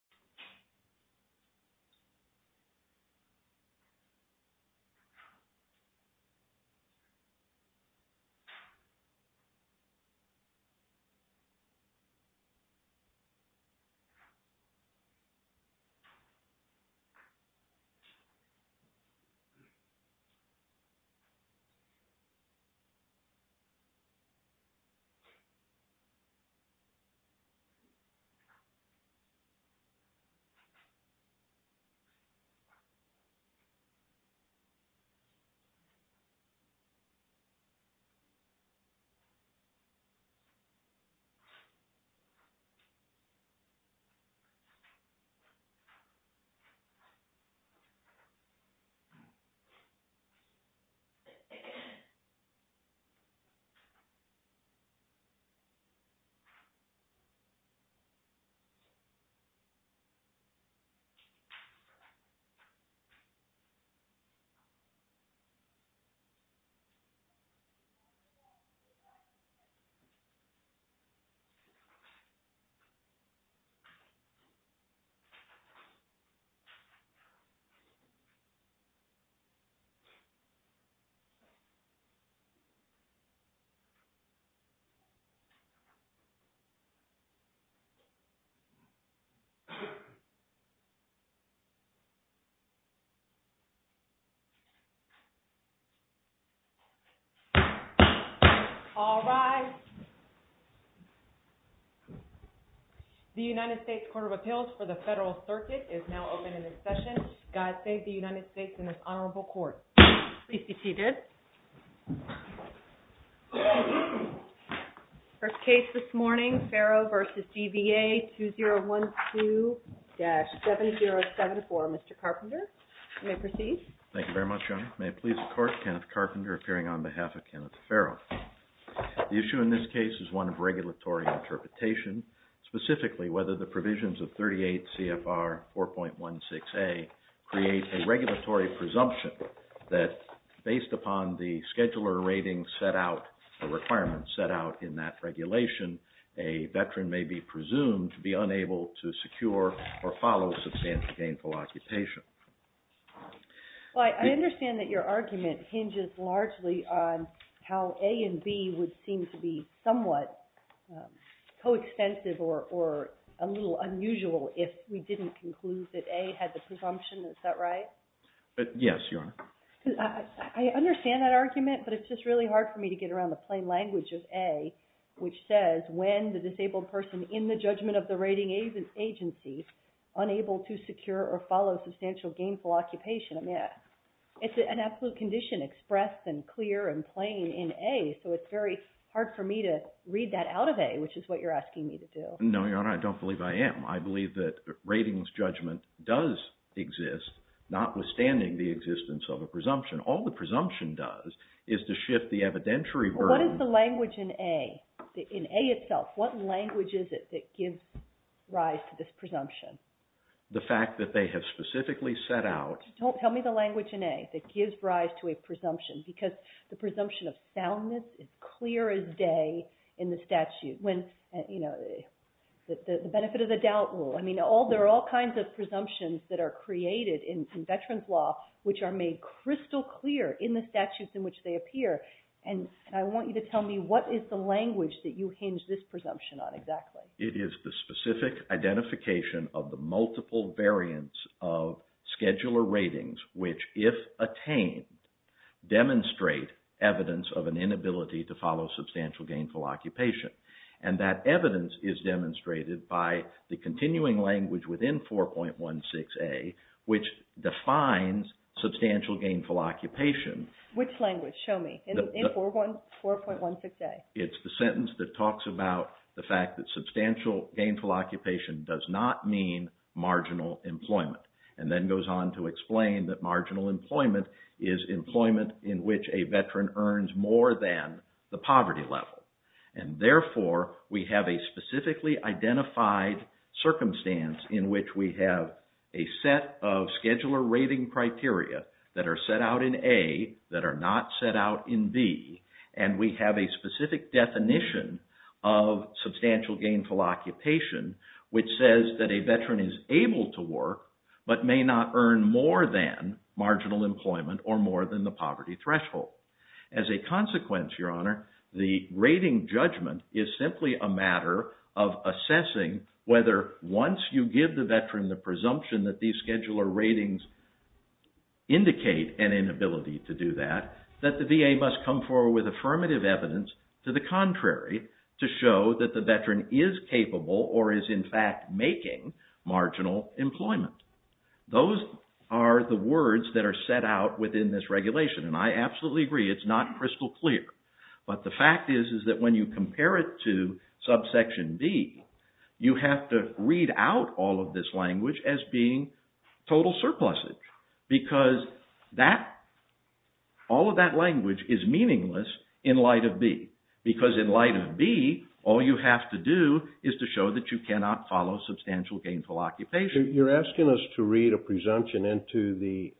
Okay So So All right The United States Court of Appeals for the Federal Circuit is now open in a session God save the United States in this honorable court seated First case this morning Farrow vs. DBA 2012 Dash 7074 mr. Carpenter may proceed. Thank you very much. May it please the court Kenneth Carpenter appearing on behalf of Kenneth Farrow The issue in this case is one of regulatory interpretation specifically whether the provisions of 38 CFR 4.16 a Create a regulatory presumption that based upon the scheduler rating set out a requirement set out in that Regulation a veteran may be presumed to be unable to secure or follow substantial gainful occupation Well, I understand that your argument hinges largely on how a and B would seem to be somewhat Coextensive or a little unusual if we didn't conclude that a had the presumption. Is that right? Yes, your honor. I When the disabled person in the judgment of the rating agents agency unable to secure or follow substantial gainful occupation Yeah, it's an absolute condition expressed and clear and plain in a so it's very hard for me to read that out of a which Is what you're asking me to do? No, your honor. I don't believe I am I believe that ratings judgment does Exist notwithstanding the existence of a presumption all the presumption does is to shift the evidentiary What is the language in a in a itself what language is it that gives rise to this presumption? the fact that they have specifically set out don't tell me the language in a that gives rise to a presumption because the presumption of soundness is clear as Day in the statute when you know The benefit of the doubt rule I mean all there are all kinds of presumptions that are created in veterans law which are made Crystal-clear in the statutes in which they appear and I want you to tell me what is the language that you hinge this presumption on Exactly. It is the specific identification of the multiple variants of scheduler ratings which if attained demonstrate evidence of an inability to follow substantial gainful occupation and that evidence is demonstrated by the continuing language within 4.16 a which defines Substantial gainful occupation which language show me in the four one four point one six day It's the sentence that talks about the fact that substantial gainful occupation does not mean Marginal employment and then goes on to explain that marginal employment is Employment in which a veteran earns more than the poverty level and therefore we have a specifically identified Circumstance in which we have a set of scheduler rating criteria that are set out in a that are not set out in B and we have a specific definition of Substantial gainful occupation which says that a veteran is able to work but may not earn more than marginal employment or more than the poverty threshold as a consequence your honor the rating judgment is simply a matter of Whether once you give the veteran the presumption that these scheduler ratings Indicate an inability to do that that the VA must come forward with affirmative evidence to the contrary To show that the veteran is capable or is in fact making marginal employment Those are the words that are set out within this regulation and I absolutely agree It's not crystal clear. But the fact is is that when you compare it to Subsection B. You have to read out all of this language as being total surpluses because that all of that language is meaningless in light of B because in light of B All you have to do is to show that you cannot follow substantial gainful occupation You're asking us to read a presumption into the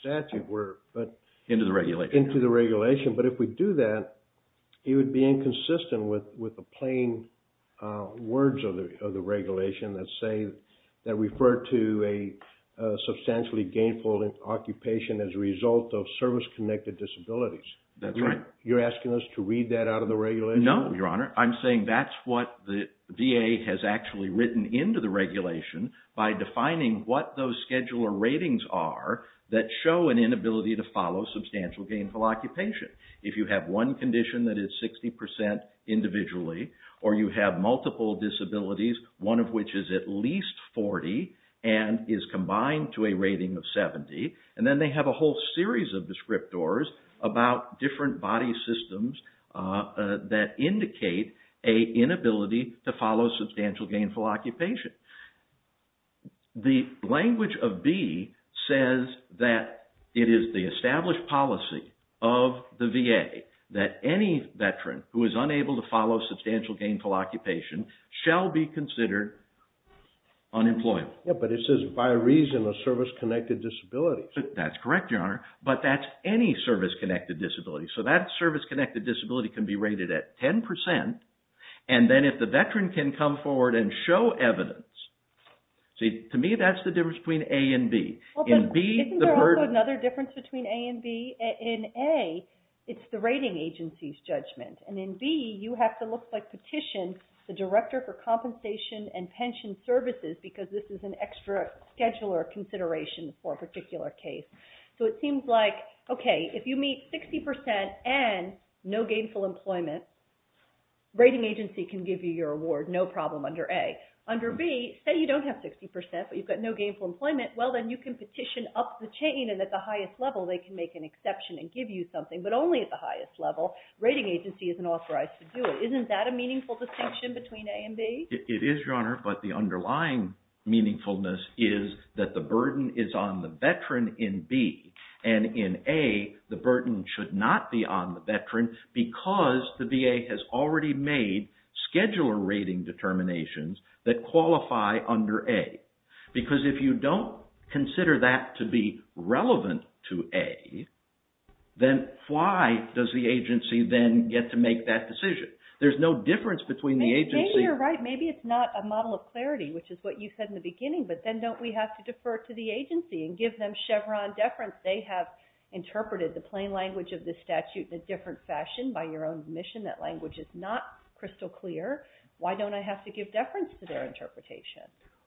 statute work, but into the regulation into the regulation But if we do that, it would be inconsistent with with a plain words of the other regulation that say that refer to a substantially gainful Occupation as a result of service-connected disabilities. That's right. You're asking us to read that out of the regulation. No, your honor I'm saying that's what the VA has actually written into the regulation by defining what those scheduler ratings are That show an inability to follow substantial gainful occupation if you have one condition that is 60% individually or you have multiple disabilities one of which is at least 40 and Is combined to a rating of 70 and then they have a whole series of descriptors about different body systems that indicate a inability to follow substantial gainful occupation the language of B says that it is the established policy of The VA that any veteran who is unable to follow substantial gainful occupation shall be considered Unemployable, but it says by reason of service-connected disability. That's correct your honor, but that's any service-connected disability So that service-connected disability can be rated at 10% and then if the veteran can come forward and show evidence See to me. That's the difference between a and B Another difference between a and B in a it's the rating agency's judgment and in B You have to look like petition the director for compensation and pension services because this is an extra Scheduler consideration for a particular case. So it seems like okay if you meet 60% and no gainful employment Rating agency can give you your award. No problem under a under B say you don't have 60% but you've got no gainful employment Well, then you can petition up the chain and at the highest level they can make an exception and give you something But only at the highest level rating agency isn't authorized to do it Isn't that a meaningful distinction between a and B? It is your honor, but the underlying meaningfulness is that the burden is on the veteran in B and in a The burden should not be on the veteran because the VA has already made Scheduler rating determinations that qualify under a because if you don't consider that to be relevant to a Then why does the agency then get to make that decision? There's no difference between the agency You're right. Maybe it's not a model of clarity, which is what you said in the beginning But then don't we have to defer to the agency and give them Chevron deference? They have interpreted the plain language of the statute in a different fashion by your own admission that language is not crystal clear Why don't I have to give deference to their interpretation?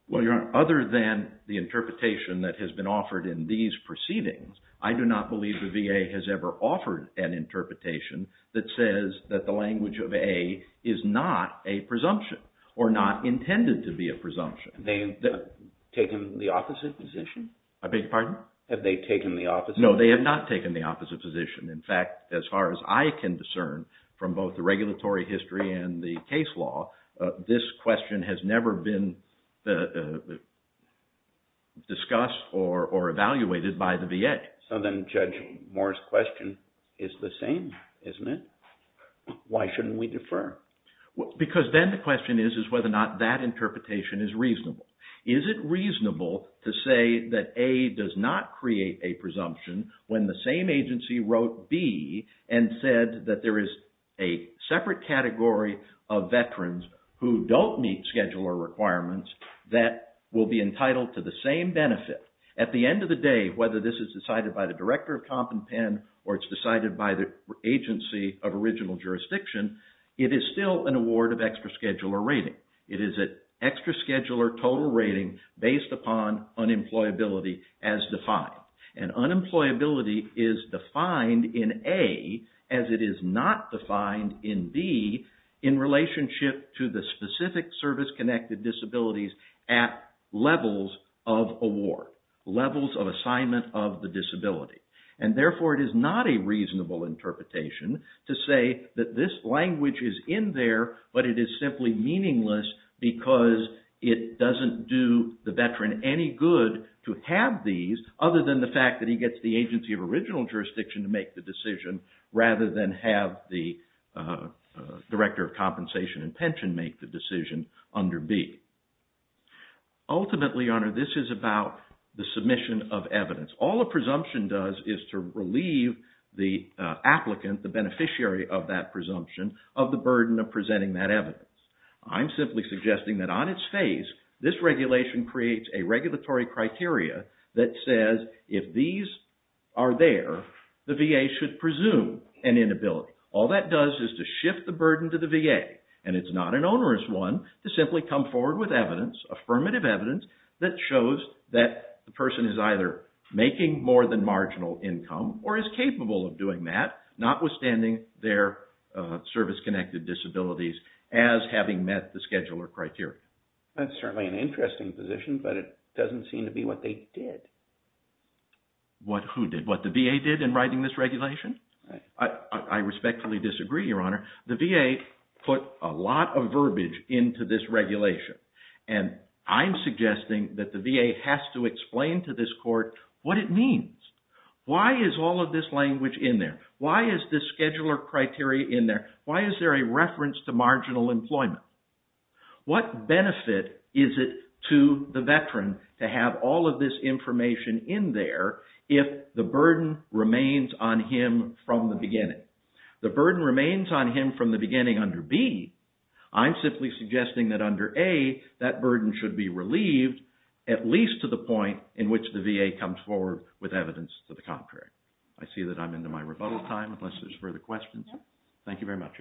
Well, you're on other than the interpretation that has been offered in these proceedings I do not believe the VA has ever offered an Interpretation that says that the language of a is not a presumption or not intended to be a presumption They've Taken the opposite position. I beg your pardon. Have they taken the office? No, they have not taken the opposite position In fact as far as I can discern from both the regulatory history and the case law This question has never been Discussed or or evaluated by the VA so then judge Morris question is the same, isn't it? Why shouldn't we defer? Because then the question is is whether or not that interpretation is reasonable is it reasonable to say that a does not create a presumption when the same agency wrote B and said that there is a separate category of Veterans who don't meet scheduler requirements that will be entitled to the same benefit at the end of the day Whether this is decided by the director of comp and pen or it's decided by the Agency of original jurisdiction. It is still an award of extra scheduler rating It is an extra scheduler total rating based upon unemployability as defined and unemployability is defined in a as it is not defined in B in relationship to the specific service-connected disabilities at levels of award Levels of assignment of the disability and therefore it is not a reasonable Interpretation to say that this language is in there But it is simply meaningless because it doesn't do the veteran any good to have these other than the fact that he gets the agency of original jurisdiction to make the decision rather than have the director of compensation and pension make the decision under B Ultimately honor this is about the submission of evidence. All the presumption does is to relieve the Applicant the beneficiary of that presumption of the burden of presenting that evidence I'm simply suggesting that on its face this regulation creates a regulatory criteria That says if these are there the VA should presume an inability All that does is to shift the burden to the VA and it's not an onerous one to simply come forward with evidence Affirmative evidence that shows that the person is either making more than marginal income or is capable of doing that notwithstanding their service-connected disabilities as Having met the scheduler criteria. That's certainly an interesting position, but it doesn't seem to be what they did What who did what the VA did in writing this regulation? I Respectfully disagree your honor the VA put a lot of verbiage into this regulation and I'm suggesting that the VA has to explain to this court what it means Why is all of this language in there? Why is this scheduler criteria in there? Why is there a reference to marginal employment? What benefit is it to the veteran to have all of this information in there? If the burden remains on him from the beginning the burden remains on him from the beginning under B I'm simply suggesting that under a that burden should be relieved at Least to the point in which the VA comes forward with evidence to the contrary I see that I'm into my rebuttal time unless there's further questions. Thank you very much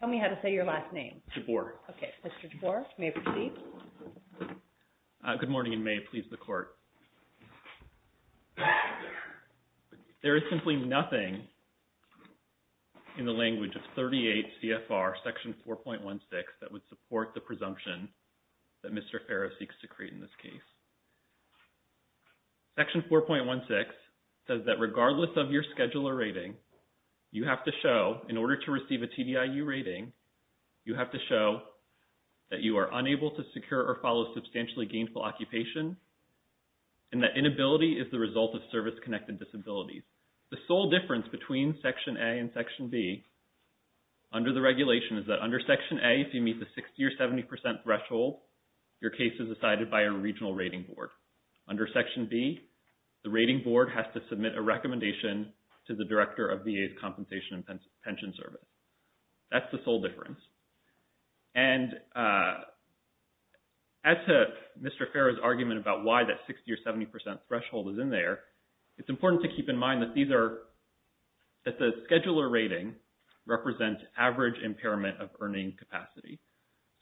Tell me how to say your last name support. Okay, mr. Torr may proceed Good morning in May, please the court There is simply nothing In the language of 38 CFR section 4.16 that would support the presumption that mr. Farrow seeks to create in this case Section 4.16 says that regardless of your scheduler rating You have to show in order to receive a TDI you rating you have to show That you are unable to secure or follow substantially gainful occupation and That inability is the result of service-connected disabilities the sole difference between section a and section B Under the regulation is that under section a if you meet the 60 or 70 percent threshold Your case is decided by a regional rating board under section B The rating board has to submit a recommendation to the director of VA's compensation and pension service that's the sole difference and As To mr. Farrow's argument about why that 60 or 70 percent threshold is in there. It's important to keep in mind that these are that the scheduler rating represents average impairment of earning capacity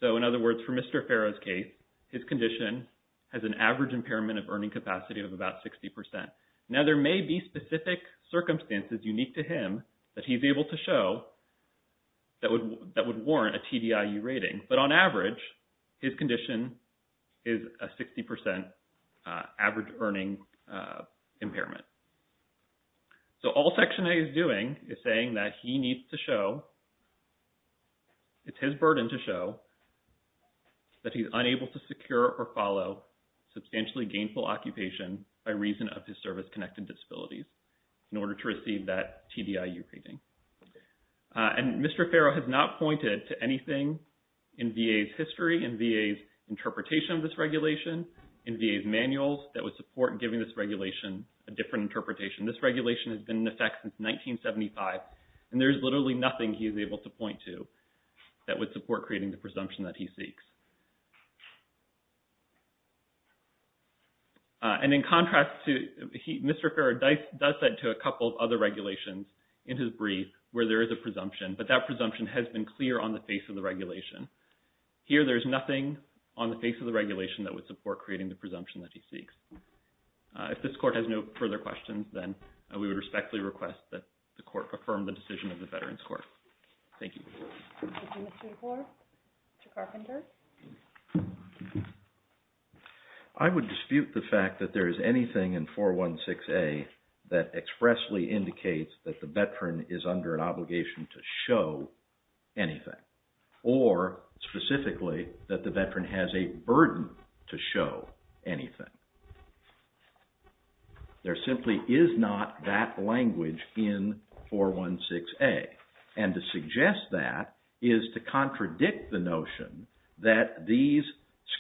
So in other words for mr. Farrow's case His condition has an average impairment of earning capacity of about 60% now there may be specific Circumstances unique to him that he's able to show That would that would warrant a TDI you rating but on average his condition is a 60% average earning impairment So all section a is doing is saying that he needs to show It's his burden to show That he's unable to secure or follow Substantially gainful occupation by reason of his service-connected disabilities in order to receive that TDI you painting And mr. Farrow has not pointed to anything in VA's history and VA's Interpretation of this regulation in VA's manuals that would support giving this regulation a different interpretation This regulation has been in effect since 1975 and there's literally nothing. He's able to point to That would support creating the presumption that he seeks And In contrast to Mr. Farrow dice does that to a couple of other regulations in his brief where there is a presumption But that presumption has been clear on the face of the regulation Here, there's nothing on the face of the regulation that would support creating the presumption that he seeks If this court has no further questions, then we would respectfully request that the court perform the decision of the Veterans Court. Thank you I would dispute the fact that there is anything in 416 a that expressly indicates that the veteran is under an obligation to show anything or Specifically that the veteran has a burden to show anything There simply is not that language in 416 a and to suggest that is to contradict the notion that these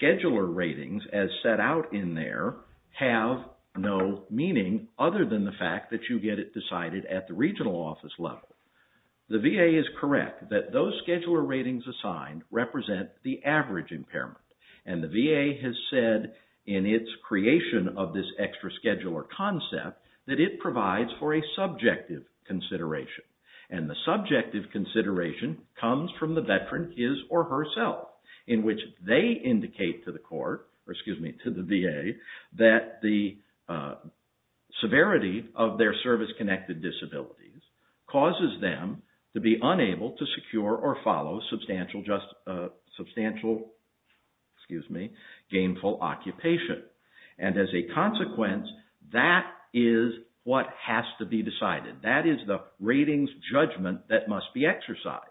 scheduler ratings as set out in there have No meaning other than the fact that you get it decided at the regional office level the VA is correct that those scheduler ratings assigned represent the average impairment and the VA has said in its creation of this extra scheduler concept that it provides for a consideration and the subject of consideration comes from the veteran is or herself in which they indicate to the court or excuse me to the VA that the Severity of their service-connected disabilities causes them to be unable to secure or follow substantial just substantial Excuse me gainful Occupation and as a consequence that is what has to be decided That is the ratings judgment that must be exercised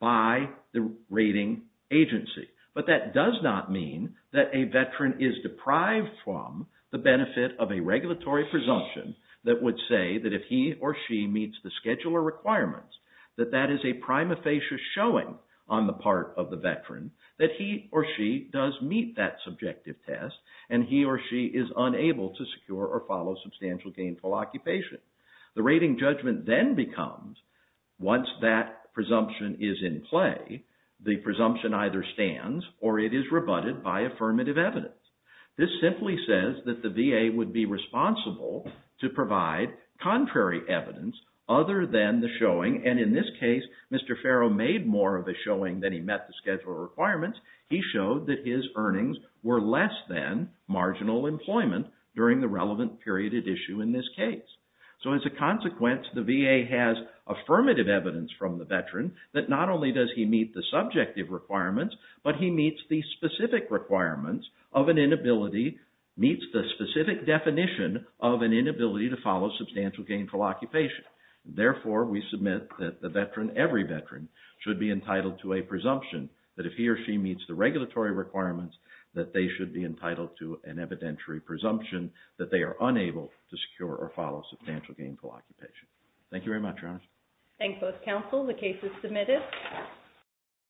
by the rating Agency, but that does not mean that a veteran is deprived from the benefit of a regulatory presumption That would say that if he or she meets the scheduler requirements that that is a prime Facious showing on the part of the veteran that he or she does meet that Subjective test and he or she is unable to secure or follow substantial gainful occupation the rating judgment then becomes Once that presumption is in play the presumption either stands or it is rebutted by affirmative evidence This simply says that the VA would be responsible to provide Contrary evidence other than the showing and in this case. Mr. Farrow made more of a showing that he met the schedule requirements He showed that his earnings were less than Marginal employment during the relevant period at issue in this case So as a consequence the VA has affirmative evidence from the veteran that not only does he meet the subjective requirements? But he meets the specific Requirements of an inability meets the specific definition of an inability to follow substantial gainful occupation Therefore we submit that the veteran every veteran should be entitled to a presumption that if he or she meets the regulatory Requirements that they should be entitled to an evidentiary presumption that they are unable to secure or follow substantial gainful occupation Thank you very much. Thanks both counsel the case is submitted